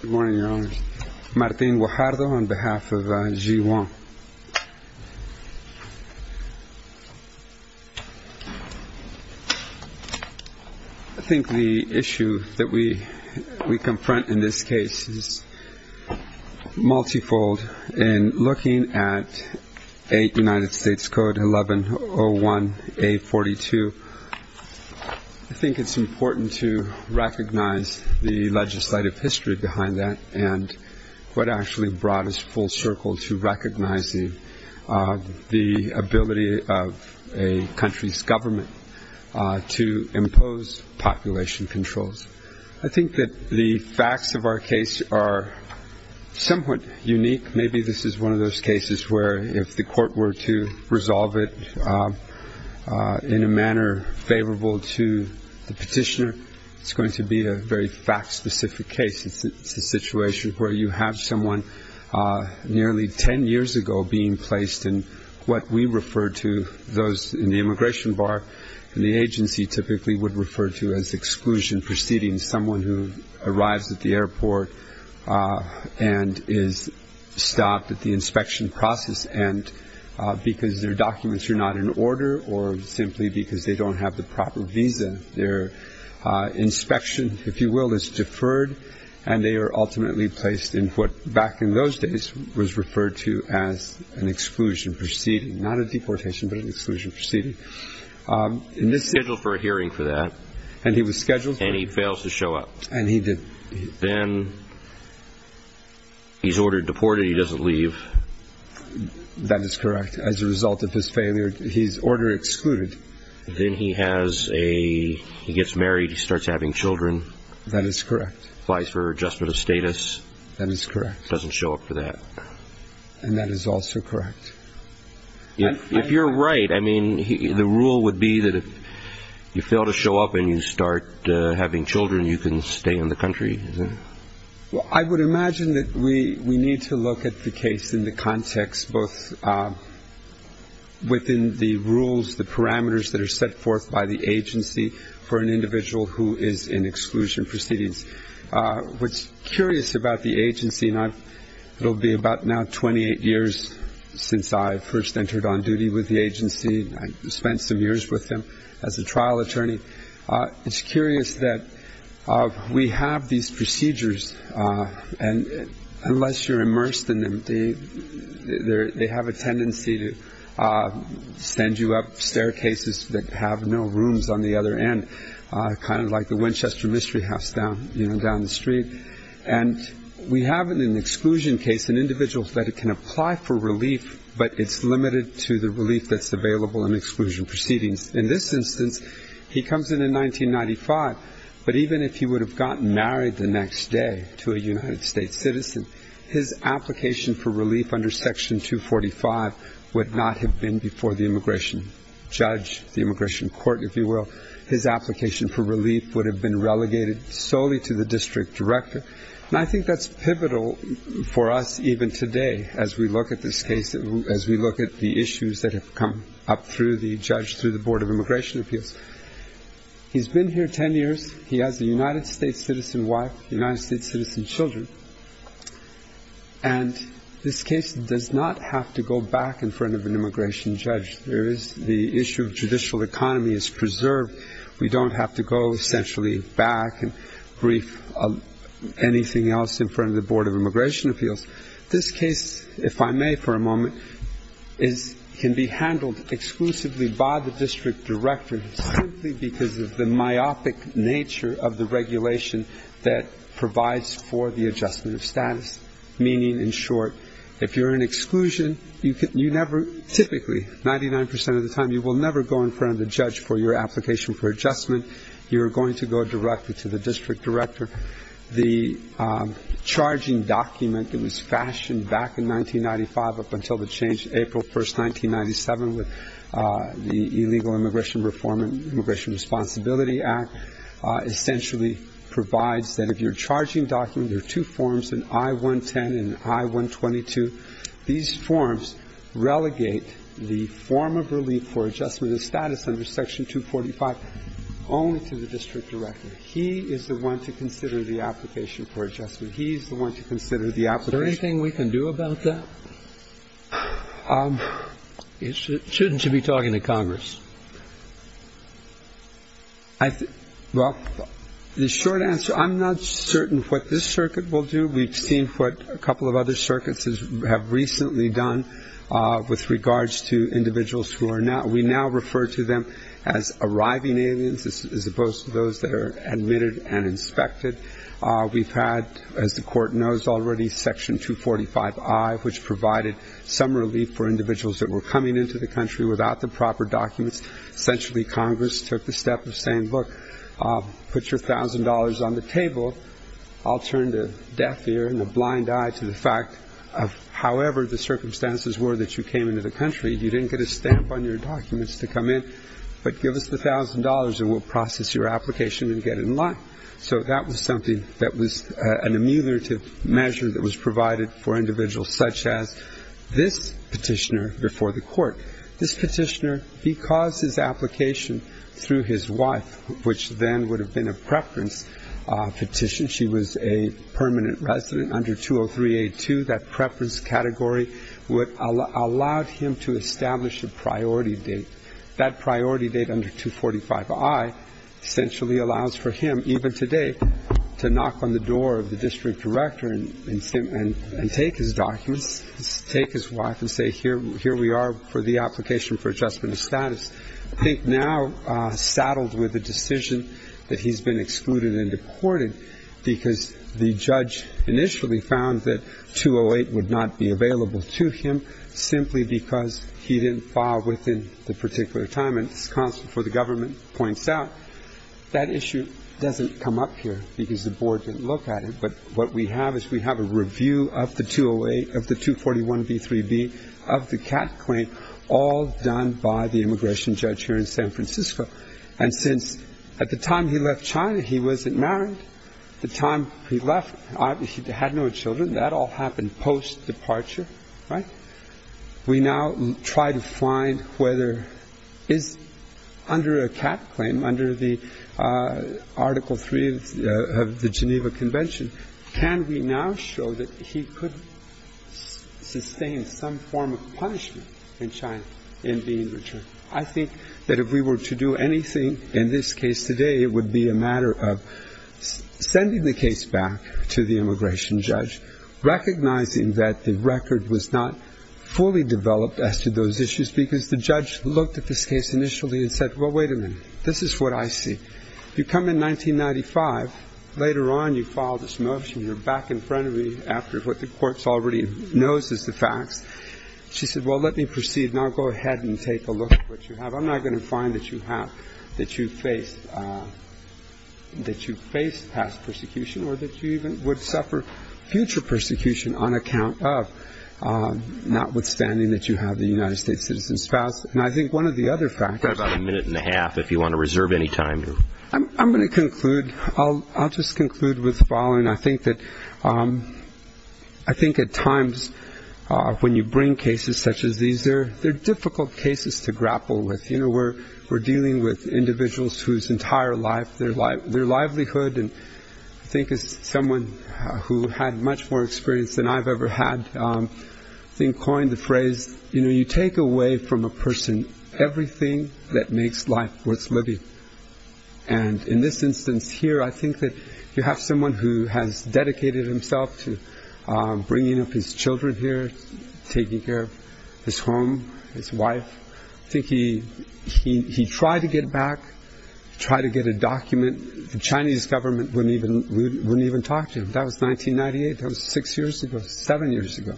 Good morning, Your Honors. Martín Guajardo on behalf of G-1. I think the issue that we confront in this case is multifold. In looking at United States Code 1101A42, I think it's important to recognize the legislative history behind that and what actually brought us full circle to recognizing the ability of a country's government to impose population controls. I think that the facts of our case are somewhat unique. I think maybe this is one of those cases where if the court were to resolve it in a manner favorable to the petitioner, it's going to be a very fact-specific case. It's a situation where you have someone nearly 10 years ago being placed in what we refer to, those in the immigration bar in the agency typically would refer to as exclusion, someone who arrives at the airport and is stopped at the inspection process end because their documents are not in order or simply because they don't have the proper visa. Their inspection, if you will, is deferred, and they are ultimately placed in what back in those days was referred to as an exclusion proceeding. Not a deportation, but an exclusion proceeding. He's scheduled for a hearing for that. And he was scheduled for a hearing. And he fails to show up. And he did. Then he's ordered deported. He doesn't leave. That is correct. As a result of his failure, he's order excluded. Then he gets married. He starts having children. That is correct. Applies for adjustment of status. That is correct. Doesn't show up for that. And that is also correct. If you're right, I mean, the rule would be that if you fail to show up and you start having children, you can stay in the country. Well, I would imagine that we need to look at the case in the context both within the rules, the parameters that are set forth by the agency for an individual who is in exclusion proceedings. What's curious about the agency, and it will be about now 28 years since I first entered on duty with the agency. I spent some years with them as a trial attorney. It's curious that we have these procedures, and unless you're immersed in them, they have a tendency to send you up staircases that have no rooms on the other end, kind of like the Winchester Mystery House down the street. And we have in an exclusion case an individual that can apply for relief, but it's limited to the relief that's available in exclusion proceedings. In this instance, he comes in in 1995, but even if he would have gotten married the next day to a United States citizen, his application for relief under Section 245 would not have been before the immigration judge, the immigration court, if you will. His application for relief would have been relegated solely to the district director. And I think that's pivotal for us even today as we look at this case, as we look at the issues that have come up through the judge, through the Board of Immigration Appeals. He's been here 10 years. He has a United States citizen wife, United States citizen children. And this case does not have to go back in front of an immigration judge. The issue of judicial economy is preserved. We don't have to go essentially back and brief anything else in front of the Board of Immigration Appeals. This case, if I may for a moment, can be handled exclusively by the district director simply because of the myopic nature of the regulation that provides for the adjustment of status. Meaning, in short, if you're in exclusion, you never typically, 99 percent of the time, you will never go in front of the judge for your application for adjustment. You are going to go directly to the district director. The charging document that was fashioned back in 1995 up until the change in April 1st, 1997, with the Illegal Immigration Reform and Immigration Responsibility Act, essentially provides that if you're charging documents, there are two forms, an I-110 and an I-122. These forms relegate the form of relief for adjustment of status under Section 245 only to the district director. He is the one to consider the application for adjustment. He is the one to consider the application. Is there anything we can do about that? Shouldn't you be talking to Congress? Well, the short answer, I'm not certain what this circuit will do. We've seen what a couple of other circuits have recently done with regards to individuals who are now, we now refer to them as arriving aliens as opposed to those that are admitted and inspected. We've had, as the court knows already, Section 245-I, which provided some relief for individuals that were coming into the country without the proper documents. Essentially, Congress took the step of saying, look, put your $1,000 on the table. I'll turn a deaf ear and a blind eye to the fact of however the circumstances were that you came into the country. You didn't get a stamp on your documents to come in, but give us the $1,000 and we'll process your application and get it in line. So that was something that was an ameliorative measure that was provided for individuals, such as this petitioner before the court. This petitioner, he caused his application through his wife, which then would have been a preference petition. She was a permanent resident under 203-A2. That preference category allowed him to establish a priority date. That priority date under 245-I essentially allows for him, even today, to knock on the door of the district director and take his documents, take his wife and say, here we are for the application for adjustment of status. I think now saddled with the decision that he's been excluded and deported because the judge initially found that 208 would not be available to him simply because he didn't file within the particular time, and this counsel for the government points out that issue doesn't come up here because the board didn't look at it. But what we have is we have a review of the 208, of the 241-B3-B, of the CAT claim, all done by the immigration judge here in San Francisco. And since at the time he left China he wasn't married, the time he left he had no children. That all happened post-departure, right? And we now try to find whether under a CAT claim, under the Article 3 of the Geneva Convention, can we now show that he could sustain some form of punishment in China in being returned. I think that if we were to do anything in this case today, it would be a matter of sending the case back to the immigration judge, recognizing that the record was not fully developed as to those issues because the judge looked at this case initially and said, well, wait a minute, this is what I see. You come in 1995, later on you file this motion, you're back in front of me after what the court already knows is the facts. She said, well, let me proceed and I'll go ahead and take a look at what you have. I'm not going to find that you have, that you face past persecution or that you even would suffer future persecution on account of, notwithstanding that you have the United States citizen spouse. And I think one of the other factors. We've got about a minute and a half if you want to reserve any time. I'm going to conclude. I'll just conclude with the following. I think that at times when you bring cases such as these, they're difficult cases to grapple with. We're dealing with individuals whose entire life, their livelihood, and I think as someone who had much more experience than I've ever had, I think coined the phrase, you take away from a person everything that makes life worth living. And in this instance here, I think that you have someone who has dedicated himself to bringing up his children here, taking care of his home, his wife. I think he tried to get back, tried to get a document. The Chinese government wouldn't even talk to him. That was 1998. That was six years ago, seven years ago.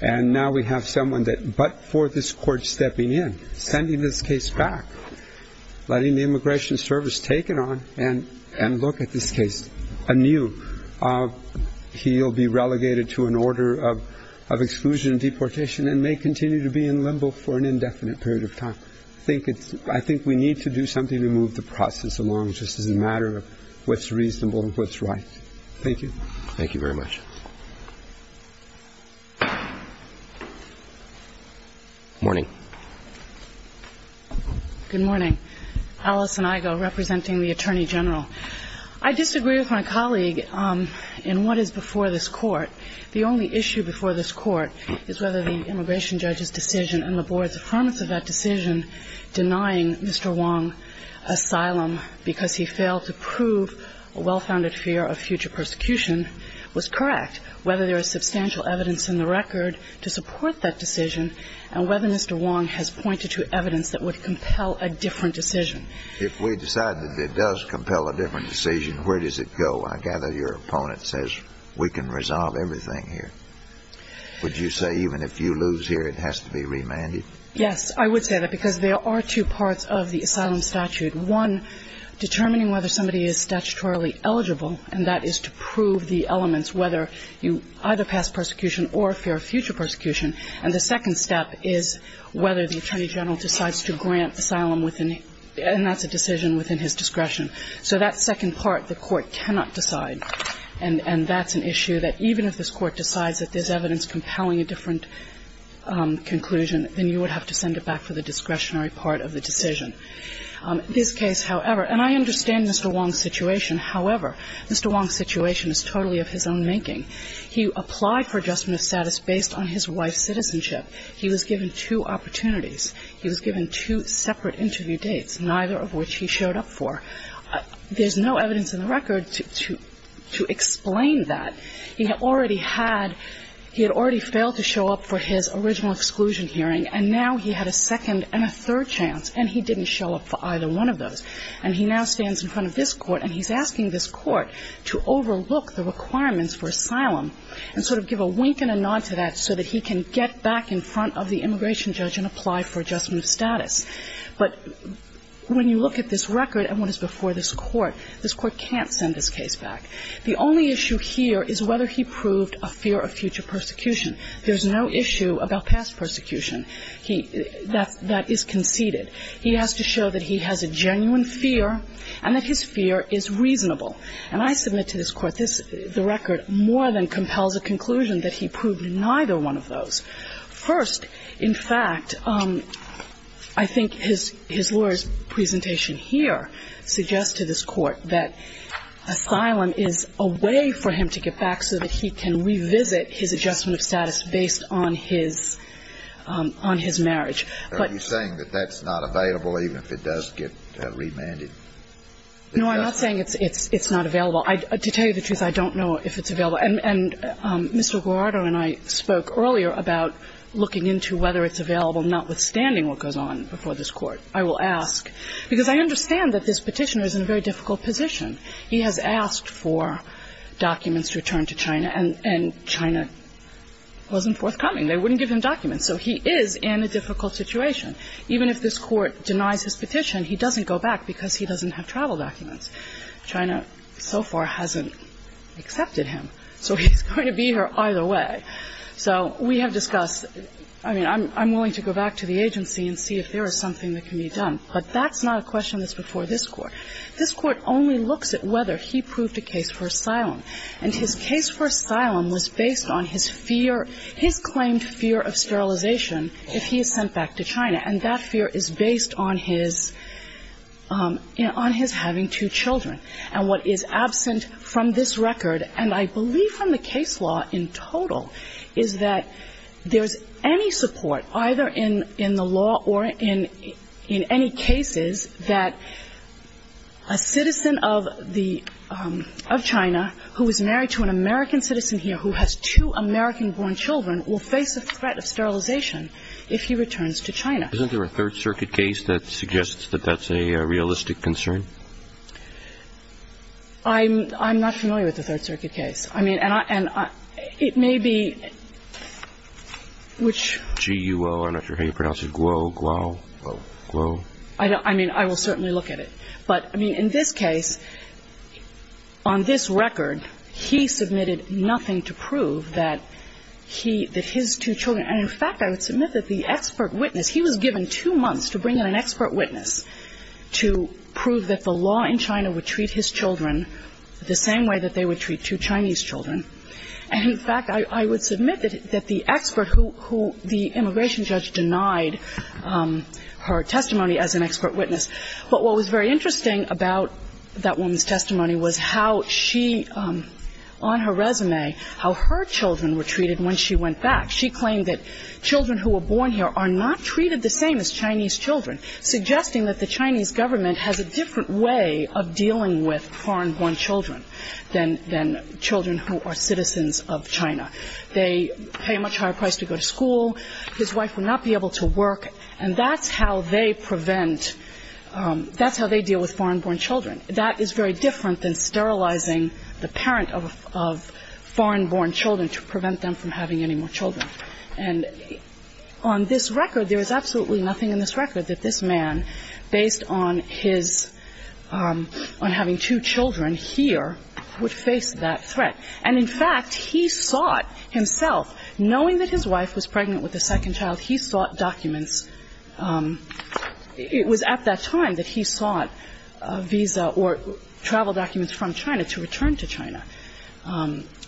And now we have someone that, but for this court stepping in, sending this case back, letting the Immigration Service take it on and look at this case anew, he'll be relegated to an order of exclusion and deportation and may continue to be in limbo for an indefinite period of time. I think we need to do something to move the process along, just as a matter of what's reasonable and what's right. Thank you. Thank you very much. Morning. Good morning. Alison Igo, representing the Attorney General. I disagree with my colleague in what is before this court. The only issue before this court is whether the immigration judge's decision and the board's affirmance of that decision denying Mr. Wong asylum because he failed to prove a well-founded fear of future persecution was correct, whether there is substantial evidence in the record to support that decision and whether Mr. Wong has pointed to evidence that would compel a different decision. If we decide that it does compel a different decision, where does it go? I gather your opponent says, we can resolve everything here. Would you say even if you lose here, it has to be remanded? Yes, I would say that, because there are two parts of the asylum statute. One, determining whether somebody is statutorily eligible, and that is to prove the elements whether you either pass persecution or fear of future persecution. And the second step is whether the Attorney General decides to grant asylum within his – and that's a decision within his discretion. So that second part, the court cannot decide. And that's an issue that even if this Court decides that there's evidence compelling a different conclusion, then you would have to send it back for the discretionary part of the decision. This case, however, and I understand Mr. Wong's situation. However, Mr. Wong's situation is totally of his own making. He applied for adjustment of status based on his wife's citizenship. He was given two opportunities. He was given two separate interview dates, neither of which he showed up for. There's no evidence in the record to explain that. He had already had – he had already failed to show up for his original exclusion hearing, and now he had a second and a third chance, and he didn't show up for either one of those. And he now stands in front of this Court, and he's asking this Court to overlook the requirements for asylum and sort of give a wink and a nod to that so that he can get back in front of the immigration judge and apply for adjustment of status. But when you look at this record and what is before this Court, this Court can't send this case back. The only issue here is whether he proved a fear of future persecution. There's no issue about past persecution. He – that's – that is conceded. He has to show that he has a genuine fear and that his fear is reasonable. And I submit to this Court this – the record more than compels a conclusion that he proved neither one of those. First, in fact, I think his lawyer's presentation here suggests to this Court that asylum is a way for him to get back so that he can revisit his adjustment of status based on his – on his marriage. But – Are you saying that that's not available even if it does get remanded? No, I'm not saying it's not available. And Mr. Guarardo and I spoke earlier about looking into whether it's available notwithstanding what goes on before this Court. I will ask – because I understand that this Petitioner is in a very difficult position. He has asked for documents to return to China, and China wasn't forthcoming. They wouldn't give him documents. So he is in a difficult situation. Even if this Court denies his petition, he doesn't go back because he doesn't have travel documents. China so far hasn't accepted him. So he's going to be here either way. So we have discussed – I mean, I'm willing to go back to the agency and see if there is something that can be done. But that's not a question that's before this Court. This Court only looks at whether he proved a case for asylum. And his case for asylum was based on his fear – his claimed fear of sterilization if he is sent back to China. And that fear is based on his – on his having two children. And what is absent from this record, and I believe from the case law in total, is that there is any support, either in the law or in any cases, that a citizen of the – of China who is married to an American citizen here who has two American children will face a threat of sterilization if he returns to China. Isn't there a Third Circuit case that suggests that that's a realistic concern? I'm – I'm not familiar with the Third Circuit case. I mean, and I – it may be which – G-U-O. I'm not sure how you pronounce it. Guo, Guo, Guo. I don't – I mean, I will certainly look at it. But, I mean, in this case, on this record, he submitted nothing to prove that he – that his two children – and, in fact, I would submit that the expert witness – he was given two months to bring in an expert witness to prove that the law in China would treat his children the same way that they would treat two Chinese children. And, in fact, I would submit that the expert who – who the immigration judge denied her testimony as an expert witness. But what was very interesting about that woman's testimony was how she, on her resume, how her children were treated when she went back. She claimed that children who were born here are not treated the same as Chinese children, suggesting that the Chinese government has a different way of dealing with foreign-born children than – than children who are citizens of China. They pay a much higher price to go to school. His wife would not be able to work, and that's how they prevent – that's how they deal with foreign-born children. That is very different than sterilizing the parent of – of foreign-born children to prevent them from having any more children. And on this record, there is absolutely nothing in this record that this man, based on his – on having two children here, would face that threat. And, in fact, he sought himself, knowing that his wife was pregnant with a second child, he sought documents. It was at that time that he sought a visa or travel documents from China to return to China,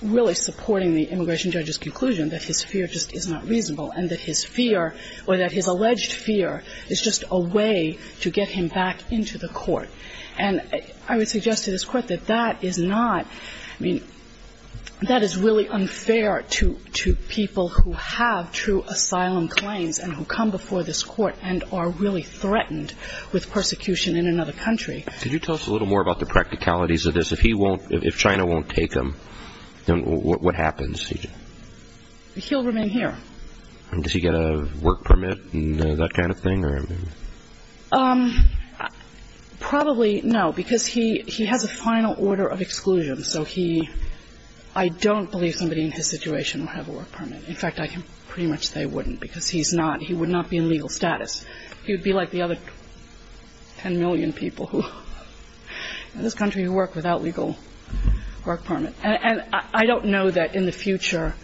really supporting the immigration judge's conclusion that his fear just is not reasonable and that his fear or that his alleged fear is just a way to get him back into the court. And I would suggest to this Court that that is not – I mean, that is really unfair to – to people who have true asylum claims and who come before this Court and are really threatened with persecution in another country. Could you tell us a little more about the practicalities of this? If he won't – if China won't take him, then what happens? He'll remain here. And does he get a work permit and that kind of thing? Probably no, because he – he has a final order of exclusion. So he – I don't believe somebody in his situation will have a work permit. In fact, I can pretty much say wouldn't, because he's not – he would not be in legal status. He would be like the other 10 million people who – in this country who work without legal work permit. And I don't know that in the future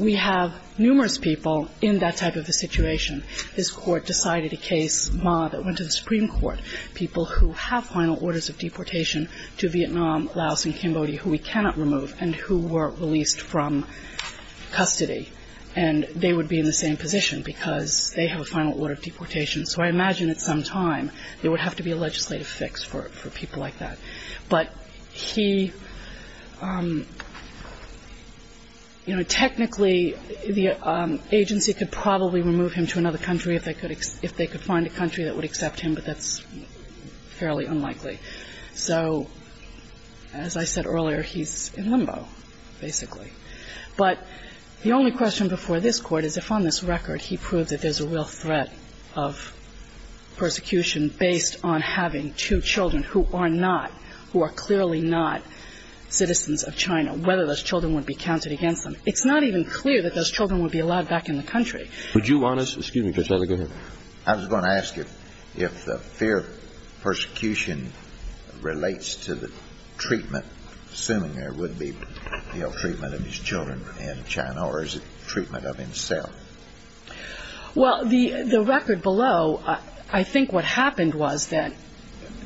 we have numerous people in that type of a situation, His Court decided a case, Ma, that went to the Supreme Court, people who have final orders of deportation to Vietnam, Laos, and Cambodia who we cannot remove and who were released from custody. And they would be in the same position because they have a final order of deportation. So I imagine at some time there would have to be a legislative fix for people like that. But he – you know, technically, the agency could probably remove him to another country if they could find a country that would accept him, but that's fairly unlikely. So as I said earlier, he's in limbo, basically. But the only question before this Court is if on this record he proves that there's a real threat of persecution based on having two children who are not – who are clearly not citizens of China, whether those children would be counted against them. It's not even clear that those children would be allowed back in the country. Would you want us – excuse me, Judge Heather. Go ahead. I was going to ask you if the fear of persecution relates to the treatment, assuming there would be ill-treatment of his children in China, or is it treatment of himself? Well, the record below, I think what happened was that,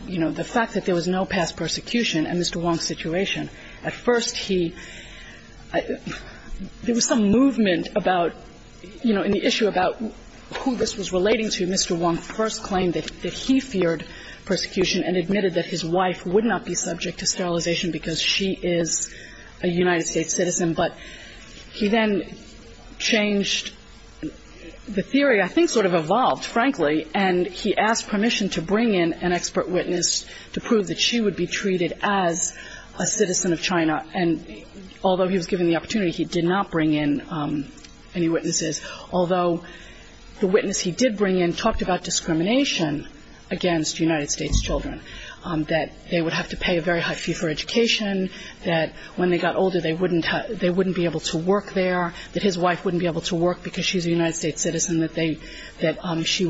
you know, the fact that there was no past persecution in Mr. Wong's situation, at first he – there was some movement about, you know, in the issue about who this was relating to, Mr. Wong first claimed that he feared persecution and admitted that his wife would not be subject to sterilization because she is a United States citizen. But he then changed the theory, I think sort of evolved, frankly, and he asked permission to bring in an expert witness to prove that she would be treated as a citizen of China. And although he was given the opportunity, he did not bring in any witnesses. Although the witness he did bring in talked about discrimination against United States children, that they would have to pay a very high fee for education, that when they got older, they wouldn't be able to work there, that his wife wouldn't be able to work because she's a United States citizen, that she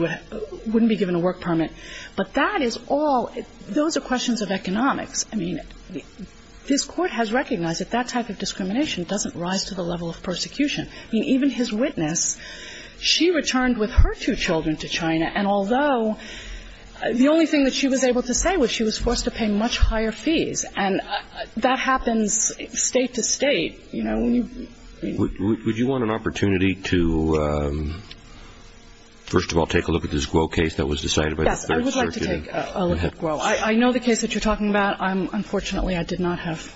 wouldn't be given a work permit. But that is all – those are questions of economics. I mean, this Court has recognized that that type of discrimination doesn't rise to the level of persecution. I mean, even his witness, she returned with her two children to China, and although – the only thing that she was able to say was she was forced to pay much higher fees. And that happens state to state, you know. Would you want an opportunity to, first of all, take a look at this Guo case that was decided by the Third Circuit? Yes, I would like to take a look at Guo. I know the case that you're talking about. I'm – unfortunately, I did not have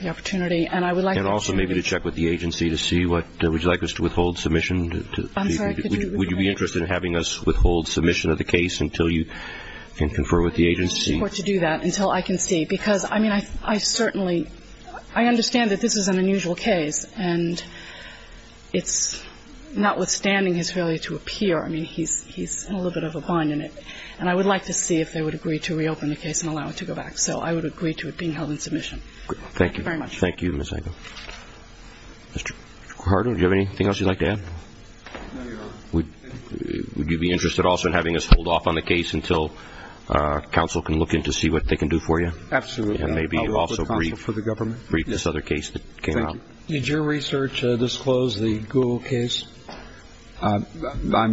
the opportunity. And I would like to see the case. And also maybe to check with the agency to see what – would you like us to withhold submission? I'm sorry. Would you be interested in having us withhold submission of the case until you can confer with the agency? I wouldn't expect the Court to do that until I can see, because, I mean, I certainly – I understand that this is an unusual case, and it's notwithstanding his failure to appear. I mean, he's in a little bit of a bind in it. And I would like to see if they would agree to reopen the case and allow it to go back. So I would agree to it being held in submission. Thank you. Thank you very much. Thank you, Ms. Agnew. Mr. Carter, do you have anything else you'd like to add? No, Your Honor. Would you be interested also in having us hold off on the case until counsel can look in to see what they can do for you? Absolutely. And maybe also brief this other case that came out. Thank you. Did your research disclose the Guo case? I'm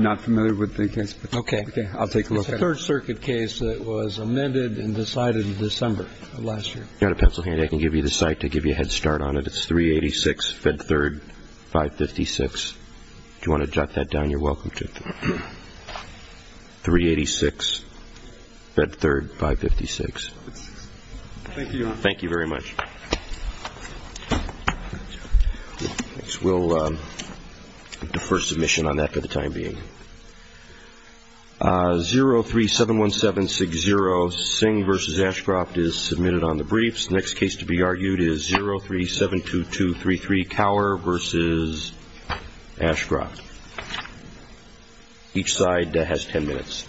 not familiar with the case. Okay. I'll take a look at it. It's a Third Circuit case that was amended and decided in December of last year. Do you have a pencil handy? I can give you the cite to give you a head start on it. It's 386 Fed Third 556. Do you want to jot that down? You're welcome to. 386 Fed Third 556. Thank you. Thank you very much. We'll defer submission on that for the time being. 0371760, Singh v. Ashcroft is submitted on the briefs. The next case to be argued is 0372233, Cower v. Ashcroft. Each side has ten minutes.